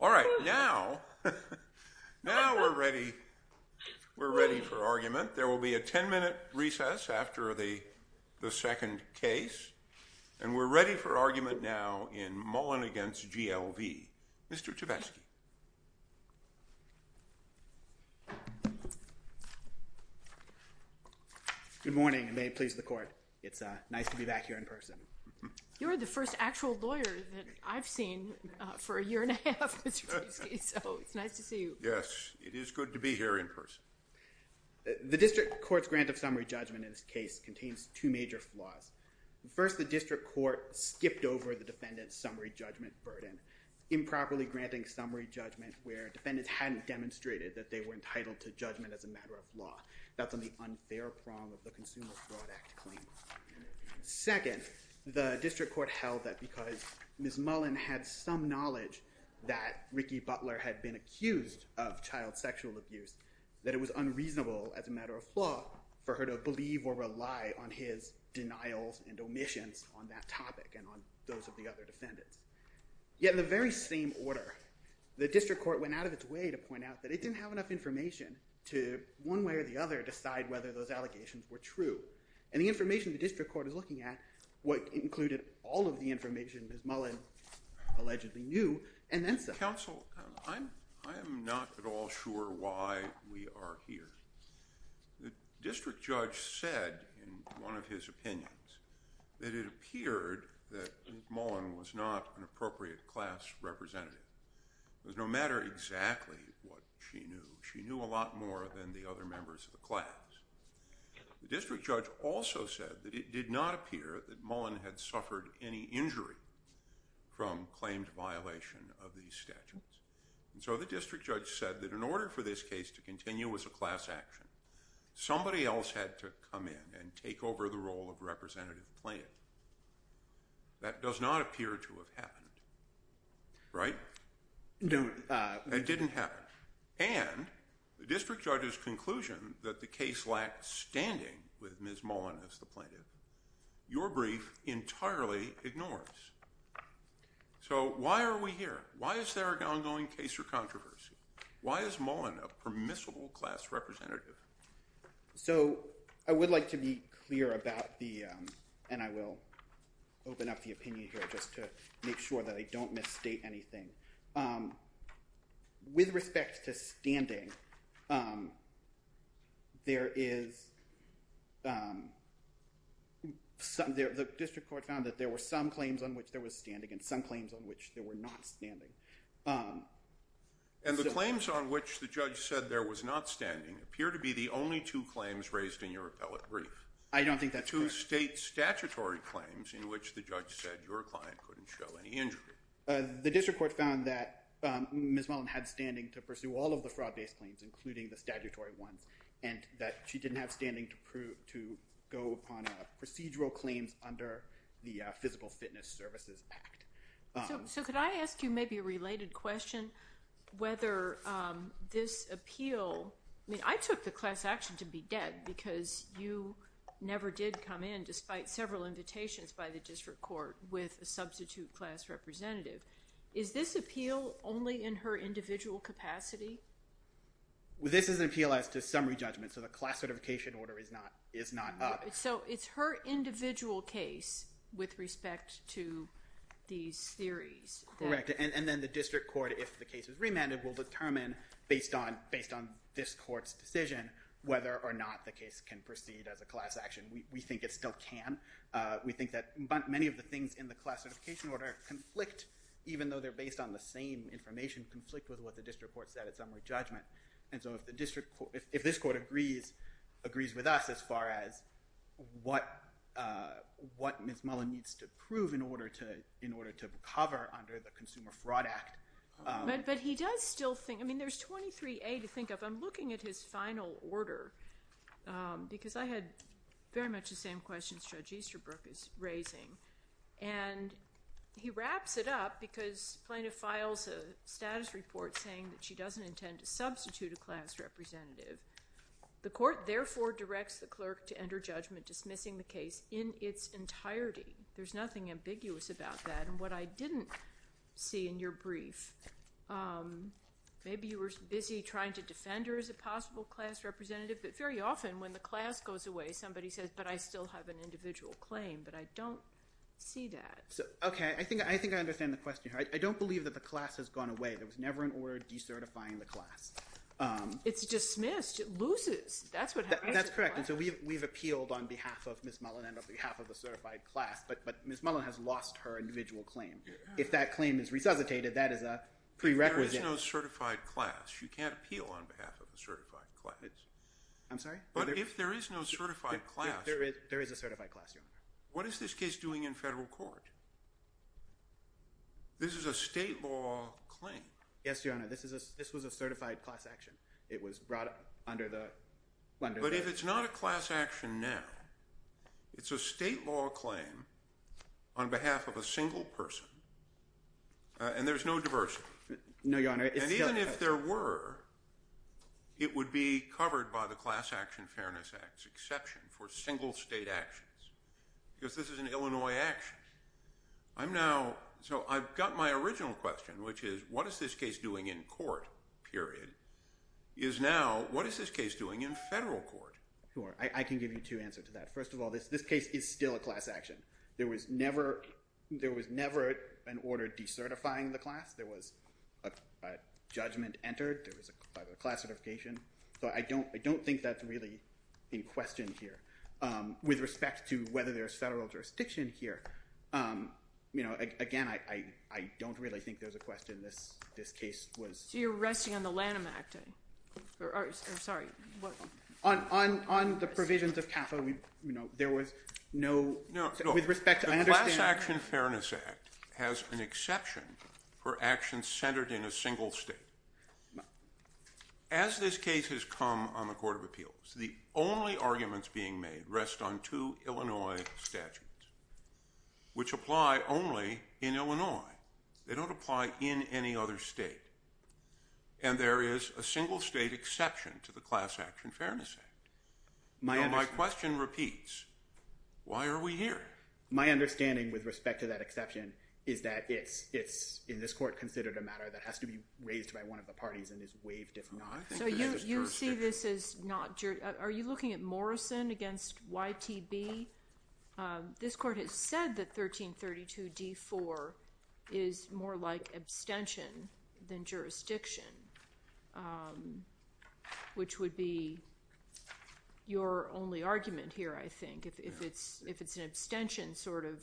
All right, now we're ready for argument. There will be a 10-minute recess after the second case. And we're ready for argument now in Mullen v. GLV. Mr. Tvetsky. Good morning, and may it please the court. It's nice to be back here in person. You're the first actual lawyer that I've heard of, Mr. Tvetsky, so it's nice to see you. Yes, it is good to be here in person. The district court's grant of summary judgment in this case contains two major flaws. First, the district court skipped over the defendant's summary judgment burden, improperly granting summary judgment where defendants hadn't demonstrated that they were entitled to judgment as a matter of law. That's on the unfair prong of the Consumer Fraud Act claim. Second, the district court held that because Ms. Mullen had some knowledge that Ricky Butler had been accused of child sexual abuse, that it was unreasonable as a matter of law for her to believe or rely on his denials and omissions on that topic and on those of the other defendants. Yet in the very same order, the district court went out of its way to point out that it didn't have enough information to, one way or the other, decide whether those allegations were true. is looking at, what included all of the information Ms. Mullen allegedly knew, and then said. Counsel, I am not at all sure why we are here. The district judge said, in one of his opinions, that it appeared that Ms. Mullen was not an appropriate class representative. It was no matter exactly what she knew, she knew a lot more than the other members of the class. The district judge also said that it did not appear that Mullen had suffered any injury from claimed violation of these statutes. And so the district judge said that in order for this case to continue as a class action, somebody else had to come in and take over the role of representative plaintiff. That does not appear to have happened, right? No. It didn't happen. And the district judge's conclusion that the case lacked standing with Ms. Mullen as the plaintiff, your brief entirely ignores. So why are we here? Why is there an ongoing case or controversy? Why is Mullen a permissible class representative? So I would like to be clear about the, and I will open up the opinion here just to make sure that I don't misstate anything. With respect to standing, the district court found that there were some claims on which there was standing and some claims on which there were not standing. And the claims on which the judge said there was not standing appear to be the only two claims raised in your appellate brief. I don't think that's true. Two state statutory claims in which the judge said your client couldn't show any injury. The district court found that Ms. Mullen had standing to pursue all of the fraud-based claims, including the statutory ones, and that she didn't have standing to go upon procedural claims under the Physical Fitness Services Act. So could I ask you maybe a related question? Whether this appeal, I mean, I took the class action to be dead because you never did come in despite several invitations by the district court with a substitute class representative. Is this appeal only in her individual capacity? Well, this is an appeal as to summary judgment, so the class certification order is not up. So it's her individual case with respect to these theories. Correct, and then the district court, if the case is remanded, will determine, based on this court's decision, whether or not the case can proceed as a class action. We think it still can. We think that many of the things in the class certification order conflict, even though they're based on the same information, conflict with what the district court said at summary judgment. And so if this court agrees with us as far as what Ms. Mullen needs to prove in order to cover under the Consumer Fraud Act. But he does still think, I mean, there's 23A to think of. I'm looking at his final order because I had very much the same questions Judge Easterbrook is raising. And he wraps it up because plaintiff files a status report saying that she doesn't intend to substitute a class representative. The court therefore directs the clerk to enter judgment dismissing the case in its entirety. There's nothing ambiguous about that. And what I didn't see in your brief, maybe you were busy trying to defend her as a possible class representative, but very often when the class goes away, somebody says, but I still have an individual claim, but I don't see that. Okay, I think I understand the question here. I don't believe that the class has gone away. There was never an order decertifying the class. It's dismissed, it loses, that's what happens. That's correct, and so we've appealed on behalf of Ms. Mullen and on behalf of a certified class, but Ms. Mullen has lost her individual claim. If that claim is resuscitated, that is a prerequisite. If there is no certified class, you can't appeal on behalf of a certified class. I'm sorry? But if there is no certified class. There is a certified class, Your Honor. What is this case doing in federal court? This is a state law claim. Yes, Your Honor, this was a certified class action. It was brought under the. But if it's not a class action now, it's a state law claim on behalf of a single person, and there's no diversity. No, Your Honor. And even if there were, it would be covered by the Class Action Fairness Act's exception for single state actions, because this is an Illinois action. I'm now, so I've got my original question, which is, what is this case doing in court, period, is now, what is this case doing in federal court? Sure, I can give you two answers to that. First of all, this case is still a class action. There was never an order decertifying the class. There was a judgment entered. There was a class certification. So I don't think that's really in question here. With respect to whether there's federal jurisdiction here, again, I don't really think there's a question. This case was. So you're resting on the Lanham Act, or sorry, what? On the provisions of CAFA, there was no, with respect to, I understand. No, the Class Action Fairness Act has an exception for actions centered in a single state. As this case has come on the Court of Appeals, the only arguments being made rest on two Illinois statutes, which apply only in Illinois. They don't apply in any other state. And there is a single state exception to the Class Action Fairness Act. My question repeats, why are we here? My understanding, with respect to that exception, is that it's, in this court, considered a matter that has to be raised by one of the parties and is waived if not. So you see this as not, are you looking at Morrison against YTB? This court has said that 1332 D4 is more like abstention than jurisdiction, which would be your only argument here, I think. If it's an abstention sort of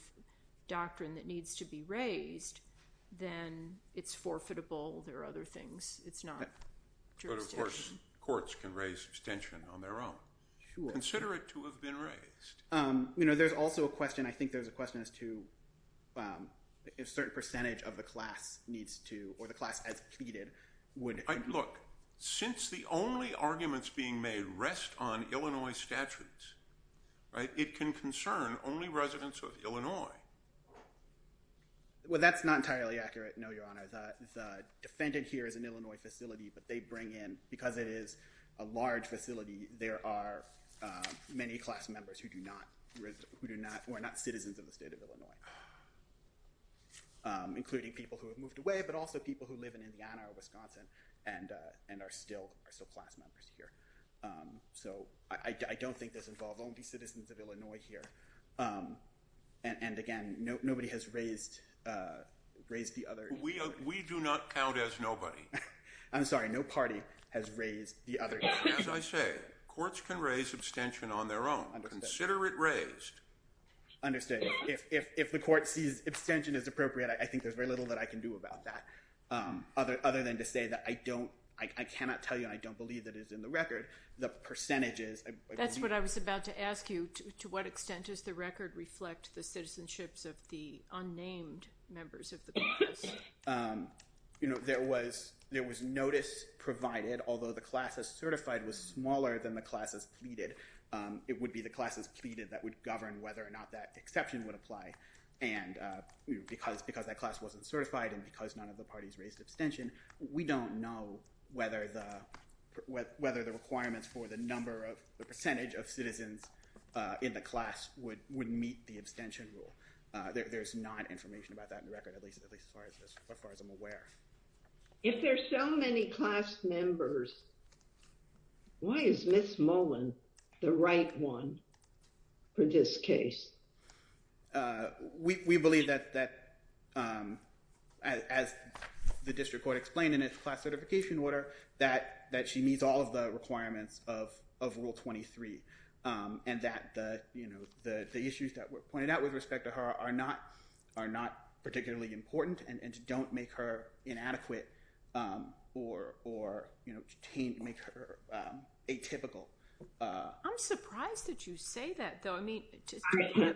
doctrine that needs to be raised, then it's forfeitable. There are other things. It's not jurisdiction. Courts can raise abstention on their own. Consider it to have been raised. There's also a question, I think there's a question as to if a certain percentage of the class needs to, or the class as pleaded would. Look, since the only arguments being made rest on Illinois statutes, it can concern only residents of Illinois. Well, that's not entirely accurate, no, Your Honor. The defendant here is an Illinois facility, but they bring in, because it is a large facility, there are many class members who do not, who are not citizens of the state of Illinois, including people who have moved away, but also people who live in Indiana or Wisconsin and are still class members here. So I don't think this involves only citizens of Illinois here. And again, nobody has raised the other. We do not count as nobody. I'm sorry, no party has raised the other. As I say, courts can raise abstention on their own. Consider it raised. Understood. If the court sees abstention as appropriate, I think there's very little that I can do about that. Other than to say that I don't, I cannot tell you and I don't believe that it is in the record, the percentages. That's what I was about to ask you. To what extent does the record reflect the citizenships of the unnamed members of the class? There was notice provided, although the class as certified was smaller than the class as pleaded. It would be the class as pleaded that would govern whether or not that exception would apply. And because that class wasn't certified and because none of the parties raised abstention, we don't know whether the requirements for the percentage of citizens in the class would meet the abstention rule. There's not information about that in the record, at least as far as I'm aware. If there's so many class members, why is Ms. Mullen the right one for this case? We believe that, as the district court explained in its class certification order, that she meets all of the requirements of rule 23 and that the issues that were pointed out with respect to her are not particularly important and don't make her inadequate or make her atypical. I'm surprised that you say that though. I mean, just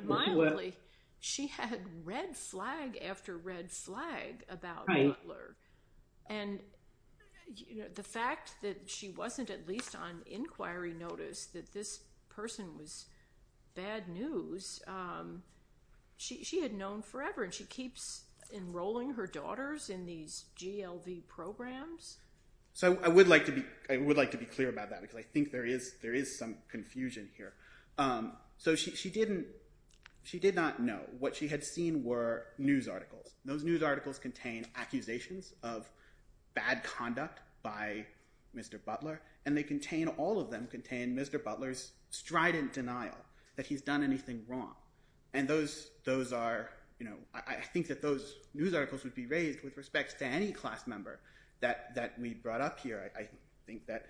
mildly, she had red flag after red flag about Butler. And the fact that she wasn't at least on inquiry notice that this person was bad news, she had known forever and she keeps enrolling her daughters in these GLV programs. So I would like to be clear about that because I think there is some confusion here. So she did not know. What she had seen were news articles. Those news articles contain accusations of bad conduct by Mr. Butler and they contain, all of them contain Mr. Butler's strident denial that he's done anything wrong. And those are, I think that those news articles would be raised with respects to any class member that we brought up here. I think that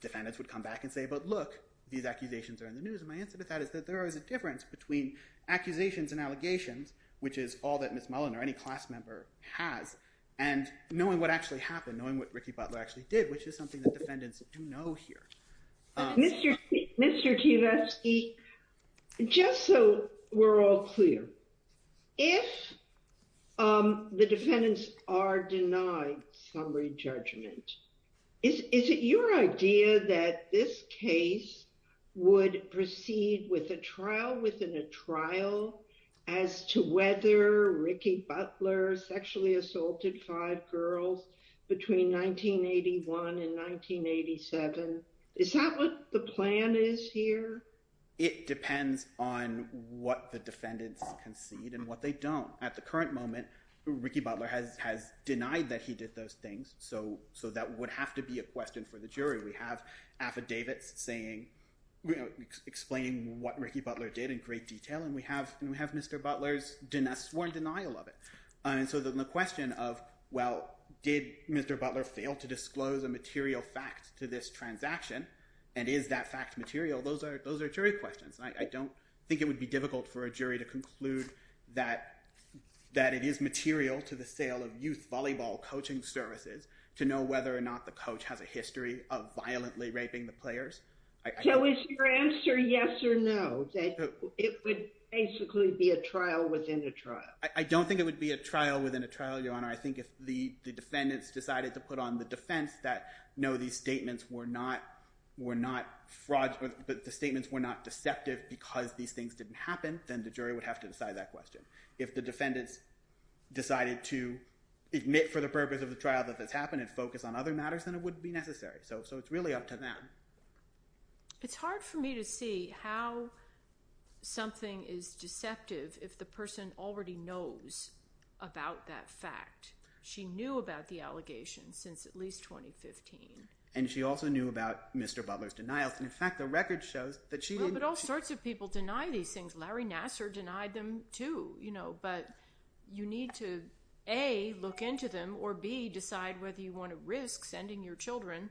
defendants would come back and say, but look, these accusations are in the news. And my answer to that is that there is a difference between accusations and allegations, which is all that Ms. Mullen or any class member has and knowing what actually happened, knowing what Ricky Butler actually did, which is something that defendants do know here. Mr. Tversky, just so we're all clear, if the defendants are denied summary judgment, is it your idea that this case would proceed with a trial within a trial as to whether Ricky Butler sexually assaulted five girls between 1981 and 1987? Is that what the plan is here? It depends on what the defendants concede and what they don't. At the current moment, Ricky Butler has denied that he did those things. So that would have to be a question for the jury. We have affidavits explaining what Ricky Butler did in great detail, and we have Mr. Butler's sworn denial of it. And so the question of, well, did Mr. Butler fail to disclose a material fact to this transaction? And is that fact material? Those are jury questions. I don't think it would be difficult for a jury to conclude that it is material to the sale of youth volleyball coaching services to know whether or not the coach has a history of violently raping the players. So is your answer yes or no, that it would basically be a trial within a trial? I don't think it would be a trial within a trial, Your Honor. I think if the defendants decided to put on the defense that no, these statements were not fraud, that the statements were not deceptive because these things didn't happen, then the jury would have to decide that question. If the defendants decided to admit for the purpose of the trial that this happened and focus on other matters, then it wouldn't be necessary. So it's really up to them. It's hard for me to see how something is deceptive if the person already knows about that fact. She knew about the allegations since at least 2015. And she also knew about Mr. Butler's denials. In fact, the record shows that she didn't- But all sorts of people deny these things. Larry Nassar denied them too. But you need to A, look into them, or B, decide whether you wanna risk sending your children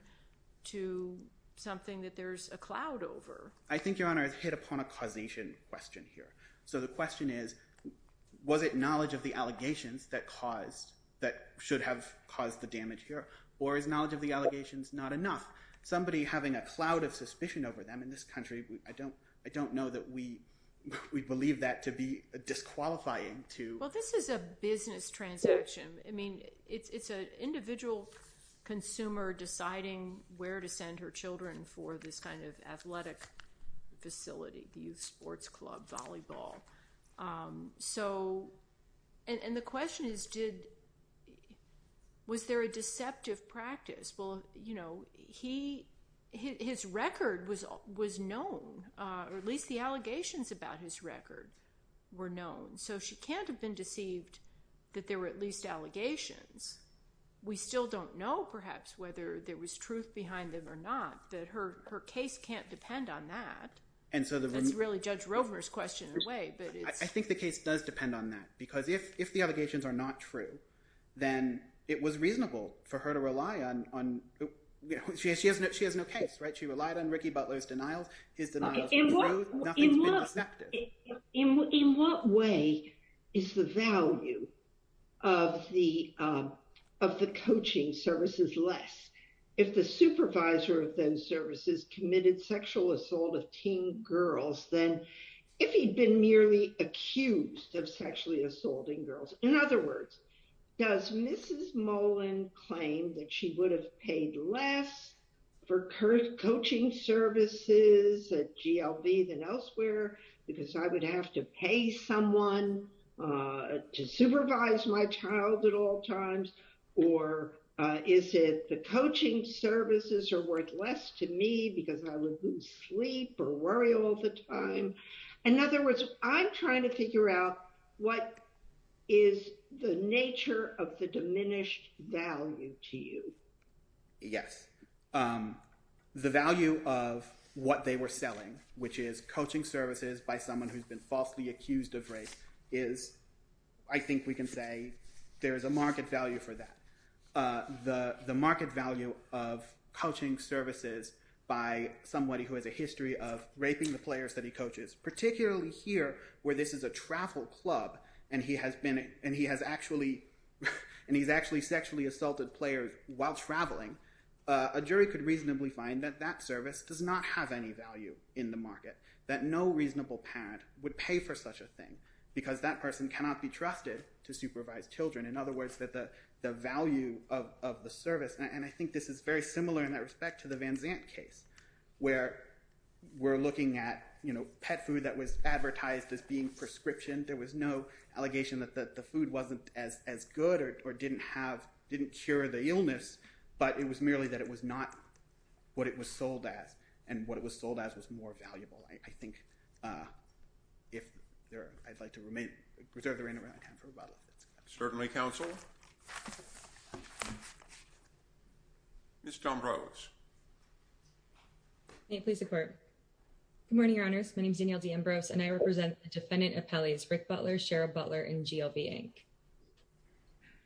to something that there's a cloud over. I think, Your Honor, I've hit upon a causation question here. So the question is, was it knowledge of the allegations that caused, that should have caused the damage here, or is knowledge of the allegations not enough? Somebody having a cloud of suspicion over them in this country, I don't know that we believe that to be disqualifying to- Well, this is a business transaction. I mean, it's an individual consumer deciding where to send her children for this kind of athletic facility, the youth sports club, volleyball. And the question is, was there a deceptive practice? Well, his record was known, or at least the allegations about his record were known. So she can't have been deceived that there were at least allegations. We still don't know, perhaps, whether there was truth behind them or not, that her case can't depend on that. And so the- That's really Judge Rovner's question in a way, but it's- I think the case does depend on that, because if the allegations are not true, then it was reasonable for her to rely on, on, she has no case, right? She relied on Ricky Butler's denials, his denials were true, nothing's been deceptive. In what way is the value of the, of the coaching services less? If the supervisor of those services committed sexual assault of teen girls, then if he'd been merely accused of sexually assaulting girls, in other words, does Mrs. Mullen claim that she would have paid less for coaching services at GLB than elsewhere, because I would have to pay someone to supervise my child at all times, or is it the coaching services are worth less to me because I would lose sleep or worry all the time? In other words, I'm trying to figure out what is the nature of the diminished value to you. Yes. The value of what they were selling, which is coaching services by someone who's been falsely accused of rape, is, I think we can say, there is a market value for that. The market value of coaching services by somebody who has a history of raping the players that he coaches, particularly here, where this is a travel club, and he has been, and he has actually, and he's actually sexually assaulted players while traveling, a jury could reasonably find that that service does not have any value in the market, that no reasonable parent would pay for such a thing, because that person cannot be trusted to supervise children. In other words, that the value of the service, and I think this is very similar in that respect to the Van Zandt case, where we're looking at pet food that was advertised as being prescription, there was no allegation that the food wasn't as good or didn't have, didn't cure the illness, but it was merely that it was not what it was sold as, and what it was sold as was more valuable. I think, if there, I'd like to remain, reserve the remaining time for rebuttal. Certainly, counsel. Ms. D'Ambrose. May it please the court. Good morning, your honors. My name's Danielle D'Ambrose, and I represent the defendant appellees, Rick Butler, Cheryl Butler, and GLB, Inc.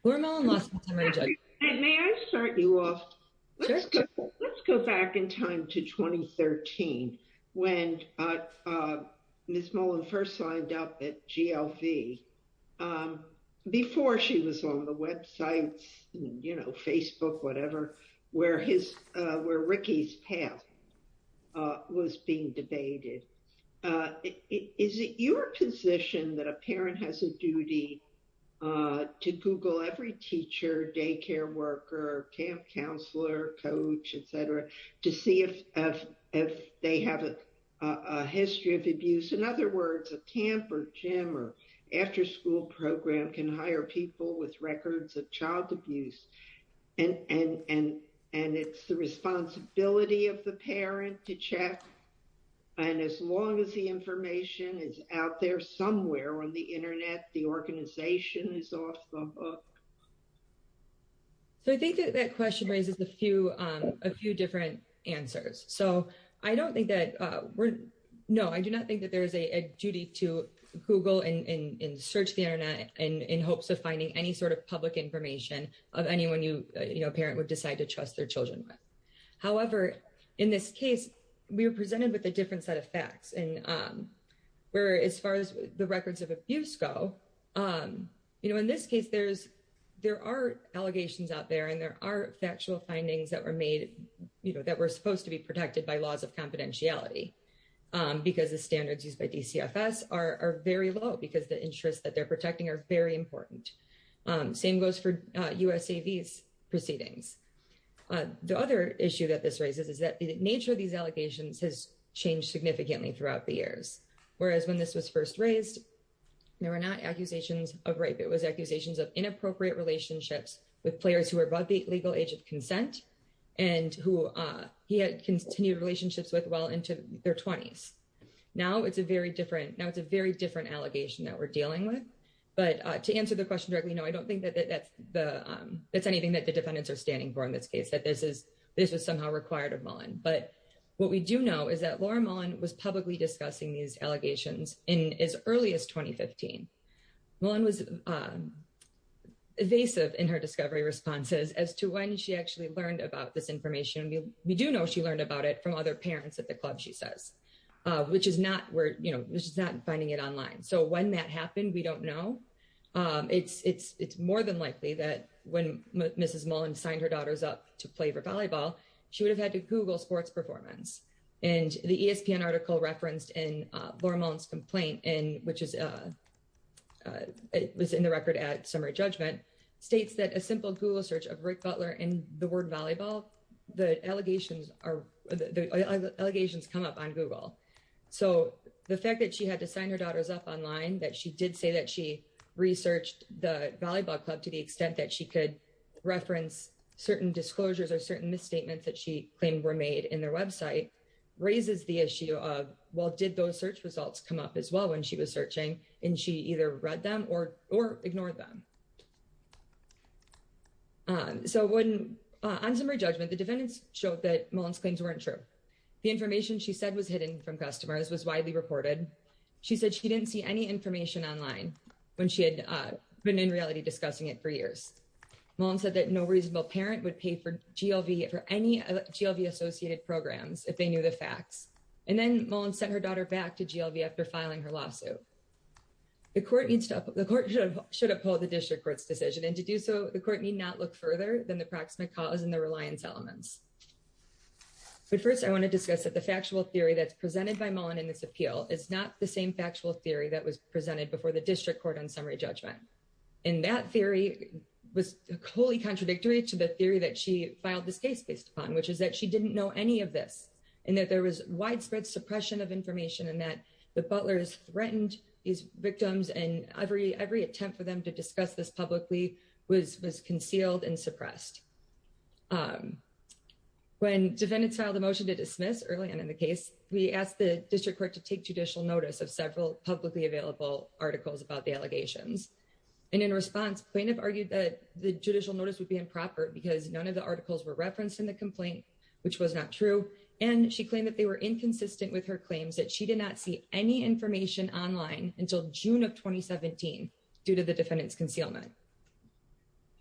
Laura Mellon-Lawson is our judge. And may I start you off, let's go back in time to 2013, when Ms. Mellon first signed up at GLB, before she was on the websites, you know, Facebook, whatever, where Ricky's path was being debated. Is it your position that a parent has a duty to Google every teacher, daycare worker, camp counselor, coach, et cetera, to see if they have a history of abuse? In other words, a camp or gym or afterschool program can hire people with records of child abuse. And it's the responsibility of the parent to check. And as long as the information is out there somewhere on the internet, the organization is off the hook. So I think that that question raises a few, a few different answers. So I don't think that we're, no, I do not think that there is a duty to Google and search the internet in hopes of finding any sort of public information of anyone you, you know, a parent would decide to trust their children with. However, in this case, we were presented with a different set of facts. And we're, as far as the records of abuse go, you know, in this case, there's, there are allegations out there and there are factual findings that were made, you know, that were supposed to be protected by laws of confidentiality because the standards used by DCFS are very low because the interests that they're protecting are very important. Same goes for USAVs proceedings. The other issue that this raises is that the nature of these allegations has changed significantly throughout the years. Whereas when this was first raised, there were not accusations of rape. It was accusations of inappropriate relationships with players who are above the legal age of consent and who he had continued relationships with well into their 20s. Now it's a very different, now it's a very different allegation that we're dealing with. But to answer the question directly, no, I don't think that that's the, that's anything that the defendants are standing for in this case, that this is, this was somehow required of Mullen. But what we do know is that Laura Mullen was publicly discussing these allegations in as early as 2015. Mullen was evasive in her discovery responses as to when she actually learned about this information. We do know she learned about it from other parents at the club, she says, which is not where, you know, which is not finding it online. So when that happened, we don't know. It's more than likely that when Mrs. Mullen signed her daughters up to play for volleyball, she would have had to Google sports performance. And the ESPN article referenced in Laura Mullen's complaint, and which is, it was in the record at summary judgment, states that a simple Google search of Rick Butler and the word volleyball, the allegations are, the allegations come up on Google. So the fact that she had to sign her daughters up online, that she did say that she researched the volleyball club to the extent that she could reference certain disclosures or certain misstatements that she claimed were made in their website, raises the issue of, well, did those search results come up as well when she was searching and she either read them or ignored them? So on summary judgment, the defendants showed that Mullen's claims weren't true. The information she said was hidden from customers was widely reported. She said she didn't see any information online when she had been in reality discussing it for years. Mullen said that no reasonable parent would pay for GLV for any GLV associated programs if they knew the facts. And then Mullen sent her daughter back to GLV after filing her lawsuit. The court needs to, the court should uphold the district court's decision and to do so, the court need not look further than the proximate cause and the reliance elements. But first I want to discuss that the factual theory that's presented by Mullen in this appeal is not the same factual theory that was presented before the district court on summary judgment. And that theory was wholly contradictory to the theory that she filed this case based upon, which is that she didn't know any of this and that there was widespread suppression of information and that the Butler's threatened these victims and every attempt for them to discuss this publicly was concealed and suppressed. When defendants filed a motion to dismiss early on in the case, we asked the district court to take judicial notice of several publicly available articles about the allegations. And in response, plaintiff argued that the judicial notice would be improper because none of the articles were referenced in the complaint, which was not true. And she claimed that they were inconsistent with her claims that she did not see any information online until June of 2017 due to the defendant's concealment.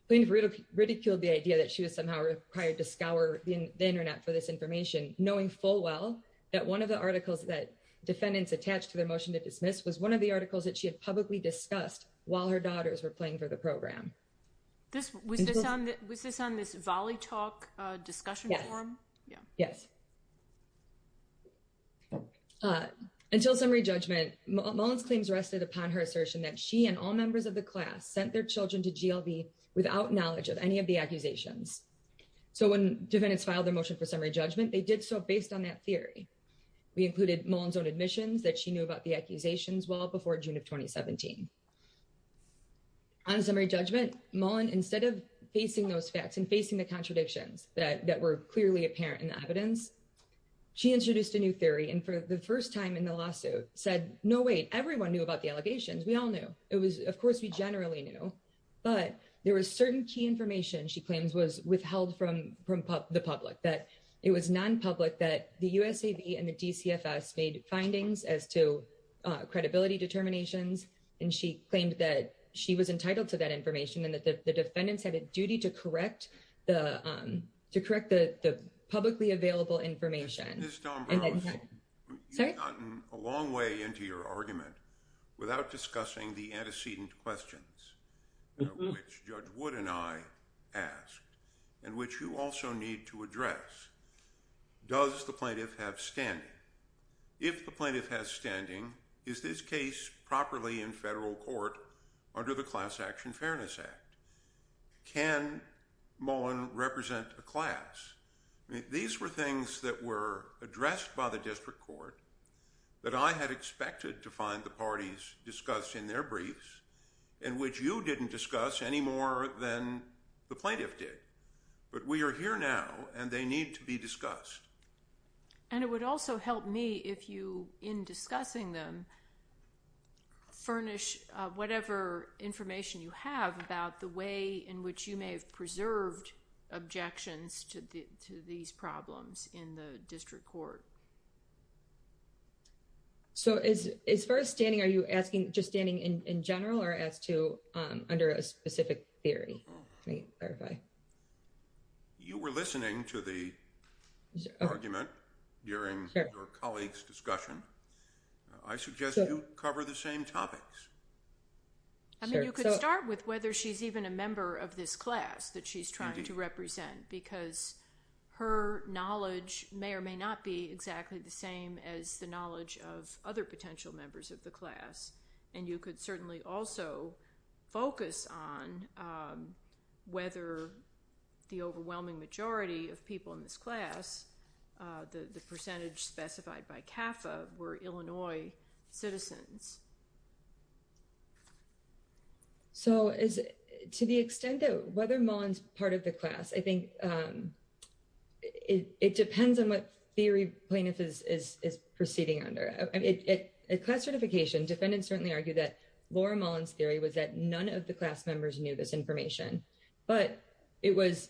Plaintiff ridiculed the idea that she was somehow required to scour the internet for this information, knowing full well that one of the articles that defendants attached to their motion to dismiss was one of the articles that she had publicly discussed while her daughters were playing for the program. Was this on this volley talk discussion forum? Yeah. Yes. Until summary judgment, Mullin's claims rested upon her assertion that she and all members of the class sent their children to GLB without knowledge of any of the accusations. So when defendants filed their motion for summary judgment, they did so based on that theory. We included Mullin's own admissions that she knew about the accusations well before June of 2017. On summary judgment, Mullin, instead of facing those facts and facing the contradictions that were clearly apparent in the evidence, she introduced a new theory. And for the first time in the lawsuit said, no way, everyone knew about the allegations. We all knew. It was, of course we generally knew, but there was certain key information she claims was withheld from the public, that it was non-public that the USAB and the DCFS made findings as to credibility determinations and she claimed that she was entitled to that information and that the defendants had a duty to correct the publicly available information. Ms. Dombrowski, you've gotten a long way into your argument without discussing the antecedent questions, which Judge Wood and I asked and which you also need to address. Does the plaintiff have standing? If the plaintiff has standing, is this case properly in federal court under the Class Action Fairness Act? Can Mullin represent a class? These were things that were addressed by the district court that I had expected to find the parties discussed in their briefs and which you didn't discuss any more than the plaintiff did but we are here now and they need to be discussed. And it would also help me if you, in discussing them, furnish whatever information you have about the way in which you may have preserved objections to these problems in the district court. So as far as standing, are you asking just standing in general or as to under a specific theory? Let me clarify. You were listening to the argument during your colleagues' discussion. I suggest you cover the same topics. I mean, you could start with whether she's even a member of this class that she's trying to represent because her knowledge may or may not be exactly the same as the knowledge of other potential members of the class. And you could certainly also focus on whether the overwhelming majority of people in this class, the percentage specified by CAFA, were Illinois citizens. So to the extent that whether Mullen's part of the class, I think it depends on what theory plaintiff is proceeding under. I mean, at class certification, defendants certainly argue that Laura Mullen's theory was that none of the class members knew this information, but it was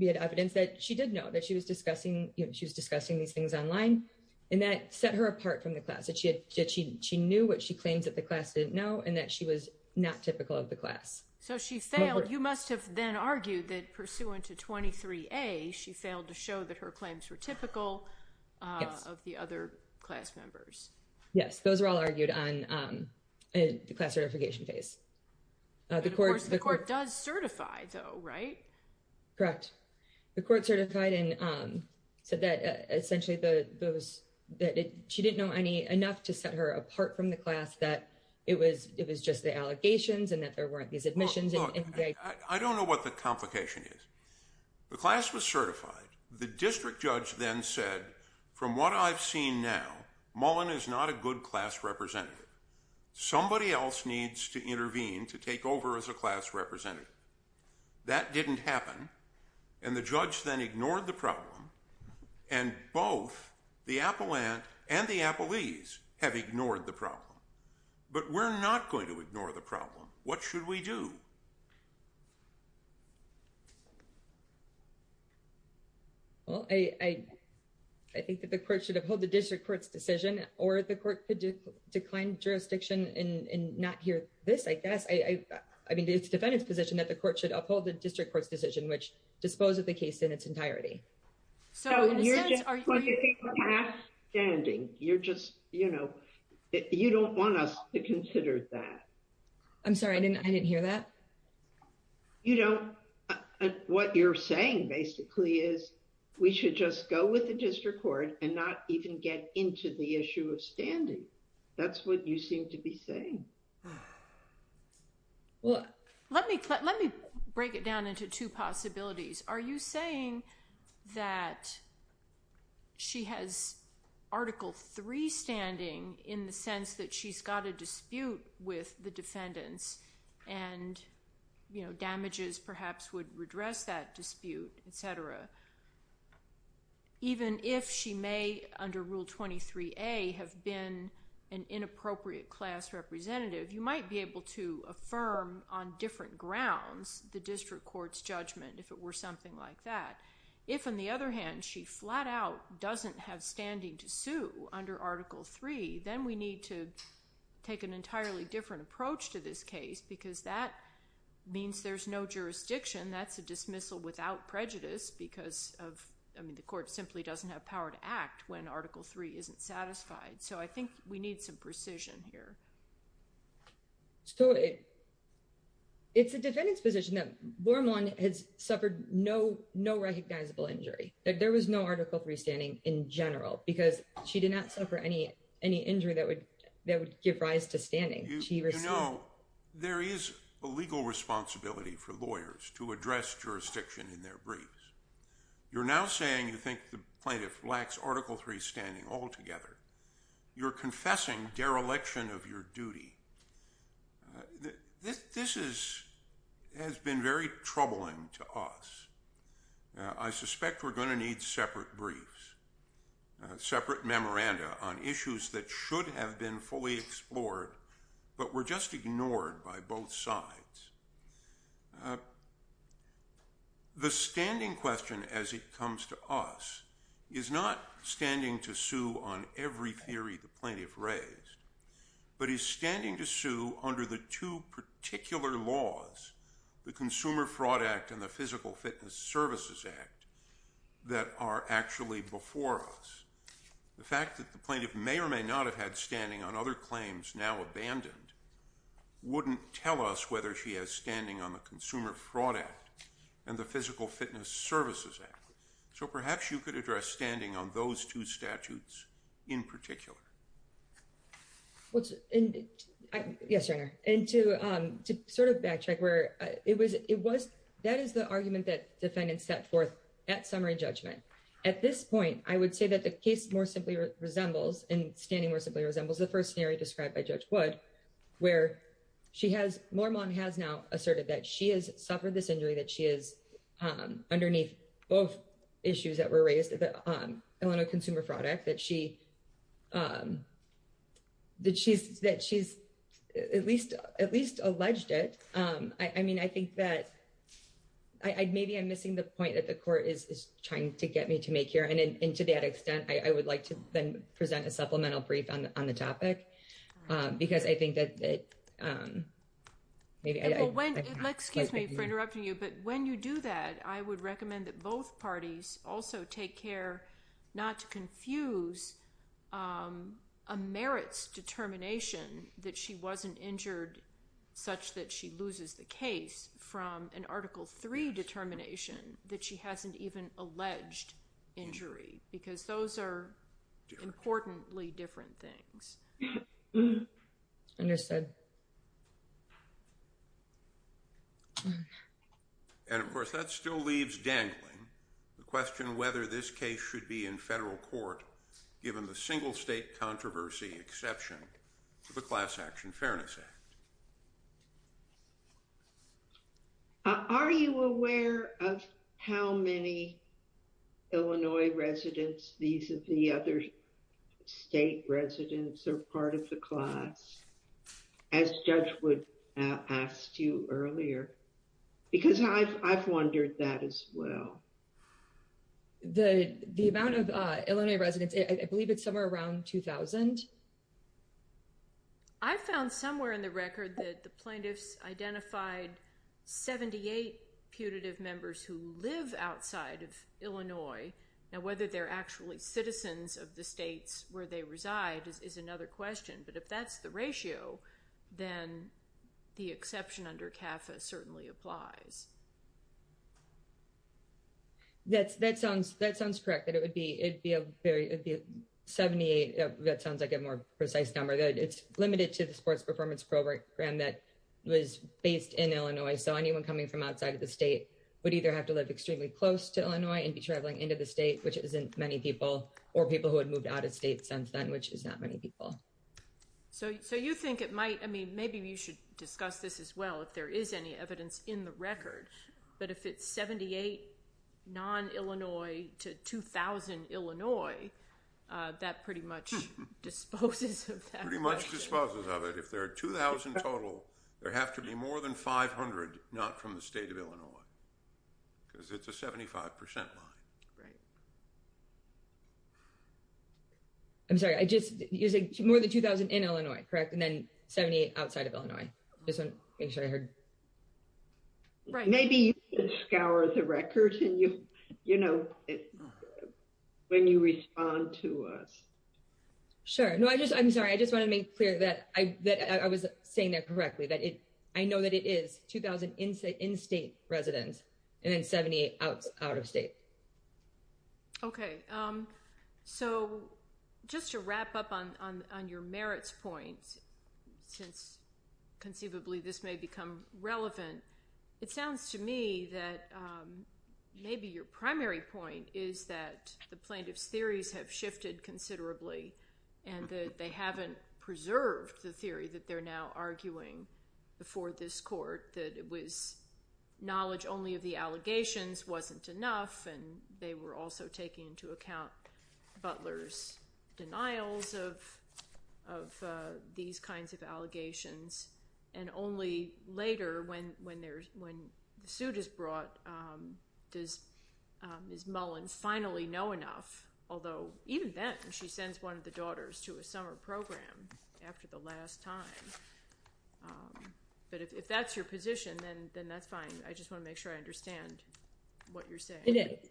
evidence that she did know that she was discussing these things online and that set her apart from the class, that she knew what she claims that the class didn't know and that she was not typical of the class. So she failed. You must have then argued that pursuant to 23A, she failed to show that her claims were typical of the other class members. Yes, those were all argued on the class certification phase. But of course, the court does certify though, right? Correct. The court certified and said that essentially those, that she didn't know enough to set her apart from the class that it was just the allegations and that there weren't these admissions. I don't know what the complication is. The class was certified. The district judge then said, from what I've seen now, Mullen is not a good class representative. Somebody else needs to intervene to take over as a class representative. That didn't happen. And the judge then ignored the problem and both the appellant and the appellees have ignored the problem. But we're not going to ignore the problem. What should we do? Well, I think that the court should have held the district court's decision or the court could decline jurisdiction and not hear this, I guess. I mean, it's the defendant's position that the court should uphold the district court's decision, which disposed of the case in its entirety. So in a sense, are you- No, you're just half standing. You're just, you know, you don't want us to consider that. I'm sorry, I didn't hear that. You don't, what you're saying basically is we should just go with the district court and not even get into the issue of standing. That's what you seem to be saying. Well, let me break it down into two possibilities. Are you saying that she has Article III standing in the sense that she's got a dispute with the defendants and, you know, damages perhaps would redress that dispute, et cetera, even if she may, under Rule 23A, have been an inappropriate class representative, you might be able to affirm on different grounds the district court's judgment if it were something like that. If, on the other hand, she flat out doesn't have standing to sue under Article III, then we need to take an entirely different approach to this case because that means there's no jurisdiction. That's a dismissal without prejudice because of, I mean, the court simply doesn't have power to act when Article III isn't satisfied. So I think we need some precision here. So it's a defendant's position that Bormann has suffered no recognizable injury. There was no Article III standing in general because she did not suffer any injury that would give rise to standing. She received- You know, there is a legal responsibility for lawyers to address jurisdiction in their briefs. You're now saying you think the plaintiff lacks Article III standing altogether. You're confessing dereliction of your duty. This has been very troubling to us. I suspect we're gonna need separate briefs, separate memoranda on issues that should have been fully explored but were just ignored by both sides. The standing question as it comes to us is not standing to sue on every theory the plaintiff raised, but is standing to sue under the two particular laws, the Consumer Fraud Act and the Physical Fitness Services Act that are actually before us. The fact that the plaintiff may or may not have had standing on other claims now abandoned wouldn't tell us whether she has standing on the Consumer Fraud Act and the Physical Fitness Services Act. So perhaps you could address standing on those two statutes in particular. Yes, Your Honor. And to sort of backtrack where it was, that is the argument that defendants set forth at summary judgment. At this point, I would say that the case more simply resembles and standing more simply resembles the first scenario described by Judge Wood where Mormon has now asserted that she has suffered this injury, that she is underneath both issues that were raised at the Illinois Consumer Fraud Act, that she's at least alleged it. I mean, I think that maybe I'm missing the point that the court is trying to get me to make here. And to that extent, I would like to then present a supplemental brief on the topic because I think that maybe I... Well, excuse me for interrupting you, but when you do that, I would recommend that both parties also take care not to confuse a merits determination that she wasn't injured such that she loses the case from an Article III determination that she hasn't even alleged injury because those are importantly different things. Understood. And of course, that still leaves dangling the question whether this case should be in federal court given the single state controversy exception to the Class Action Fairness Act. Okay. Are you aware of how many Illinois residents, these are the other state residents or part of the class as Judge Wood asked you earlier? Because I've wondered that as well. The amount of Illinois residents, I believe it's somewhere around 2000. I found somewhere in the record that the plaintiffs identified 78 putative members who live outside of Illinois. Now, whether they're actually citizens of the states where they reside is another question. But if that's the ratio, then the exception under CAFA certainly applies. That sounds correct. That it would be, it'd be a very 78. That sounds like a more precise number. It's limited to the sports performance program that was based in Illinois. So anyone coming from outside of the state would either have to live extremely close to Illinois and be traveling into the state, which isn't many people, or people who had moved out of state since then, which is not many people. So you think it might, I mean, maybe you should discuss this as well if there is any evidence in the record. But if it's 78 non-Illinois to 2000 Illinois, that pretty much disposes of that. Pretty much disposes of it. If there are 2000 total, there have to be more than 500 not from the state of Illinois, because it's a 75% line. Right. I'm sorry, I just, you're saying more than 2000 in Illinois, correct? And then 78 outside of Illinois. Just wanted to make sure I heard. Right. Maybe you can scour the record, when you respond to us. Sure. No, I just, I'm sorry. I just wanted to make clear that I was saying that correctly, that I know that it is 2000 in-state residents and then 78 out of state. Okay. So just to wrap up on your merits point, since conceivably this may become relevant, it sounds to me that maybe your primary point is that the plaintiff's theories have shifted considerably and that they haven't preserved the theory that they're now arguing before this court, that it was knowledge only of the allegations wasn't enough and they were also taking into account Butler's denials of these kinds of allegations and only later when the suit is brought, does Ms. Mullen finally know enough, although even then she sends one of the daughters to a summer program after the last time. But if that's your position, then that's fine. I just want to make sure I understand what you're saying.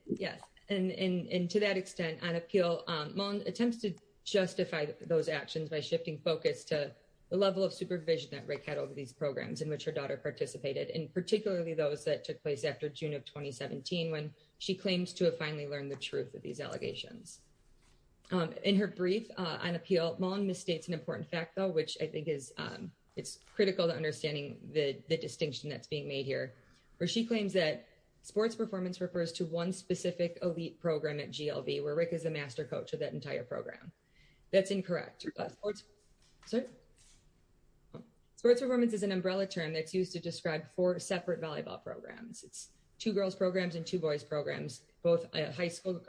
Yes. And to that extent on appeal, Mullen attempts to justify those actions by shifting focus to the level of supervision that Rick had over these programs in which her daughter participated and particularly those that took place after June of 2017, when she claims to have finally learned the truth of these allegations. In her brief on appeal, Mullen misstates an important fact though, which I think it's critical to understanding the distinction that's being made here, where she claims that sports performance refers to one specific elite program at GLB where Rick is a master coach of that entire program. That's incorrect. Sports performance is an umbrella term that's used to describe four separate volleyball programs. It's two girls' programs and two boys' programs, both high school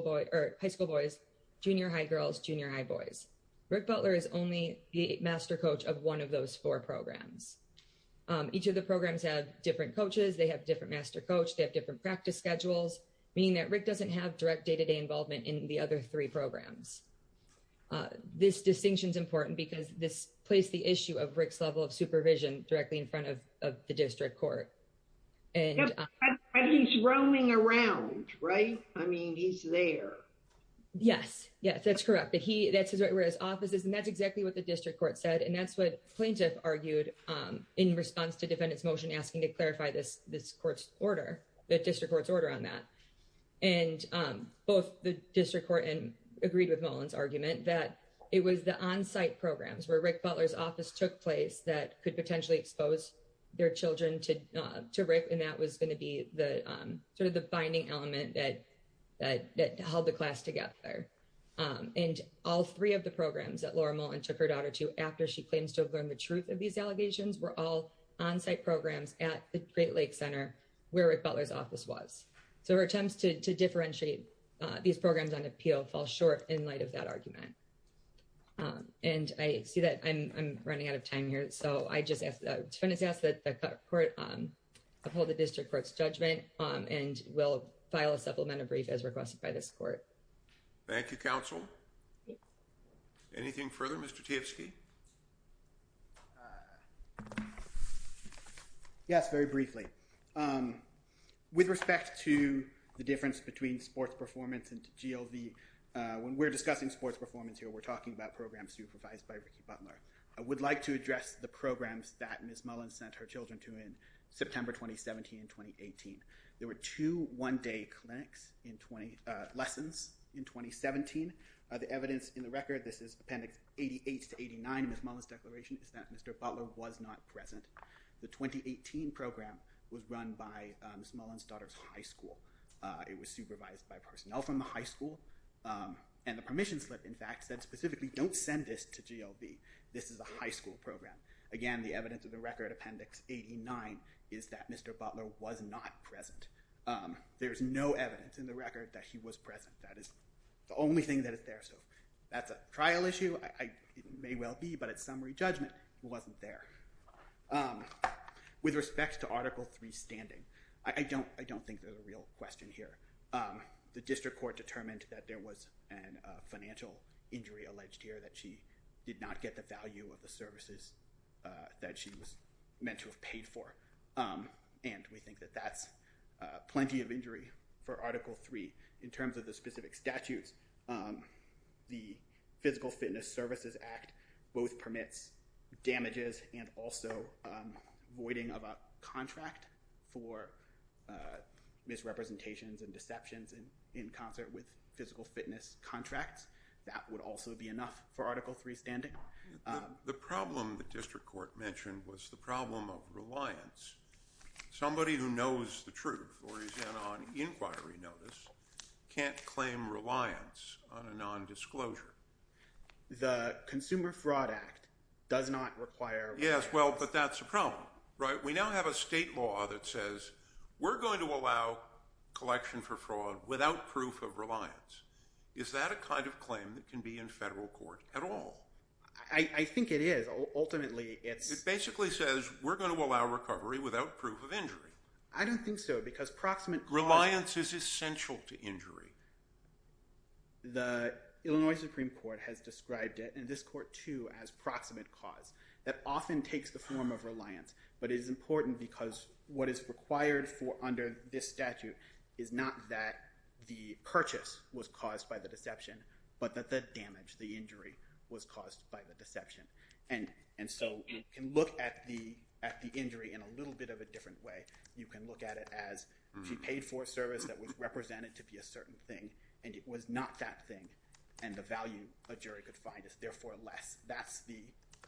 boys, junior high girls, junior high boys. Rick Butler is only the master coach of one of those four programs. Each of the programs have different coaches, they have different master coach, they have different practice schedules, meaning that Rick doesn't have direct day-to-day involvement in the other three programs. This distinction is important because this plays the issue of Rick's level of supervision directly in front of the district court. And he's roaming around, right? I mean, he's there. Yes, yes, that's correct. But that's his right where his office is and that's exactly what the district court said. And that's what plaintiff argued in response to defendant's motion asking to clarify this court's order, the district court's order on that. And both the district court and agreed with Mullen's argument that it was the onsite programs where Rick Butler's office took place that could potentially expose their children to Rick and that was going to be the sort of the binding element that held the class together. And all three of the programs that Laura Mullen took her daughter to after she claims to have learned the truth of these allegations were all onsite programs at the Great Lakes Center where Rick Butler's office was. So her attempts to differentiate these programs on appeal fall short in light of that argument. And I see that I'm running out of time here. So I just ask that the court uphold the district court's judgment and we'll file a supplemental brief as requested by this court. Thank you, counsel. Anything further, Mr. Tiefske? Yes, very briefly. With respect to the difference between sports performance and GLV, when we're discussing sports performance here, we're talking about programs supervised by Ricky Butler. I would like to address the programs that Ms. Mullen sent her children to in September 2017 and 2018. There were two one-day clinics, lessons in 2017. The evidence in the record, this is appendix 88 to 89 in Ms. Mullen's declaration is that Mr. Butler was not present. The 2018 program was run by Ms. Mullen's daughter's high school. It was supervised by personnel from the high school. And the permission slip, in fact, said specifically, don't send this to GLV. This is a high school program. Again, the evidence of the record, appendix 89, is that Mr. Butler was not present. There's no evidence in the record that he was present. That is the only thing that is there. So that's a trial issue. It may well be, but at summary judgment, he wasn't there. With respect to Article III standing, I don't think there's a real question here. The district court determined that there was a financial injury alleged here that she did not get the value of the services that she was meant to have paid for. And we think that that's plenty of injury for Article III. In terms of the specific statutes, the Physical Fitness Services Act both permits damages and also voiding of a contract for misrepresentations and deceptions in concert with physical fitness contracts. That would also be enough for Article III standing. The problem the district court mentioned was the problem of reliance. Somebody who knows the truth or is in on inquiry notice can't claim reliance on a nondisclosure. The Consumer Fraud Act does not require reliance. Yes, well, but that's a problem, right? We now have a state law that says we're going to allow collection for fraud without proof of reliance. Is that a kind of claim that can be in federal court at all? I think it is. Ultimately, it's- It basically says we're going to allow recovery without proof of injury. I don't think so because proximate cause- Reliance is essential to injury. The Illinois Supreme Court has described it, and this court too, as proximate cause. That often takes the form of reliance, but it is important because what is required for under this statute is not that the purchase was caused by the deception, but that the damage, the injury, was caused by the deception. And so you can look at the injury in a little bit of a different way. You can look at it as she paid for a service that was represented to be a certain thing, and it was not that thing, and the value a jury could find is therefore less. That's the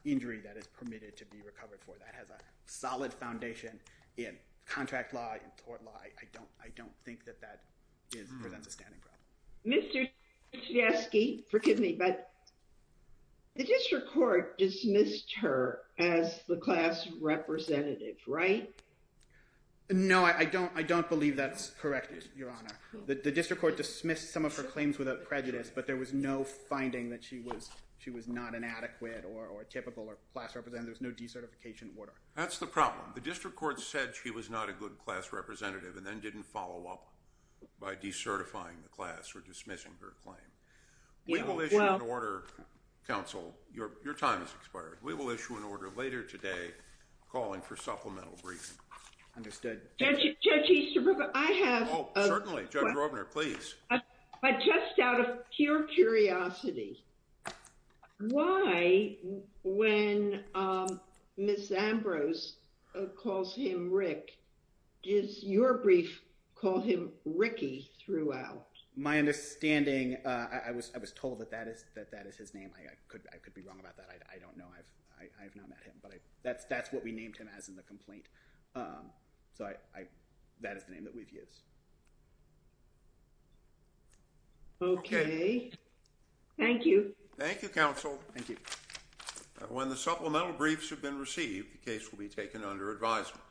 injury that is permitted to be recovered for. That has a solid foundation in contract law, in court law. I don't think that that presents a standing problem. Mr. Stachowski, forgive me, but the district court dismissed her as the class representative, right? No, I don't believe that's correct. The district court dismissed some of her claims without prejudice, but there was no finding that she was not an adequate or a typical or class representative. There was no decertification order. That's the problem. The district court said she was not a good class representative and then didn't follow up by decertifying the class or dismissing her claim. We will issue an order, counsel, your time has expired. We will issue an order later today calling for supplemental briefing. Understood. Judge Easterbrook, I have. Oh, certainly, Judge Rovner, please. But just out of pure curiosity, why when Ms. Ambrose calls him Rick, does your brief call him Ricky throughout? My understanding, I was told that that is his name. I could be wrong about that. I don't know, I've not met him, but that's what we named him as in the complaint. So that is the name that we've used. Okay. Thank you. Thank you, counsel. Thank you. When the supplemental briefs have been received, the case will be taken under advisement.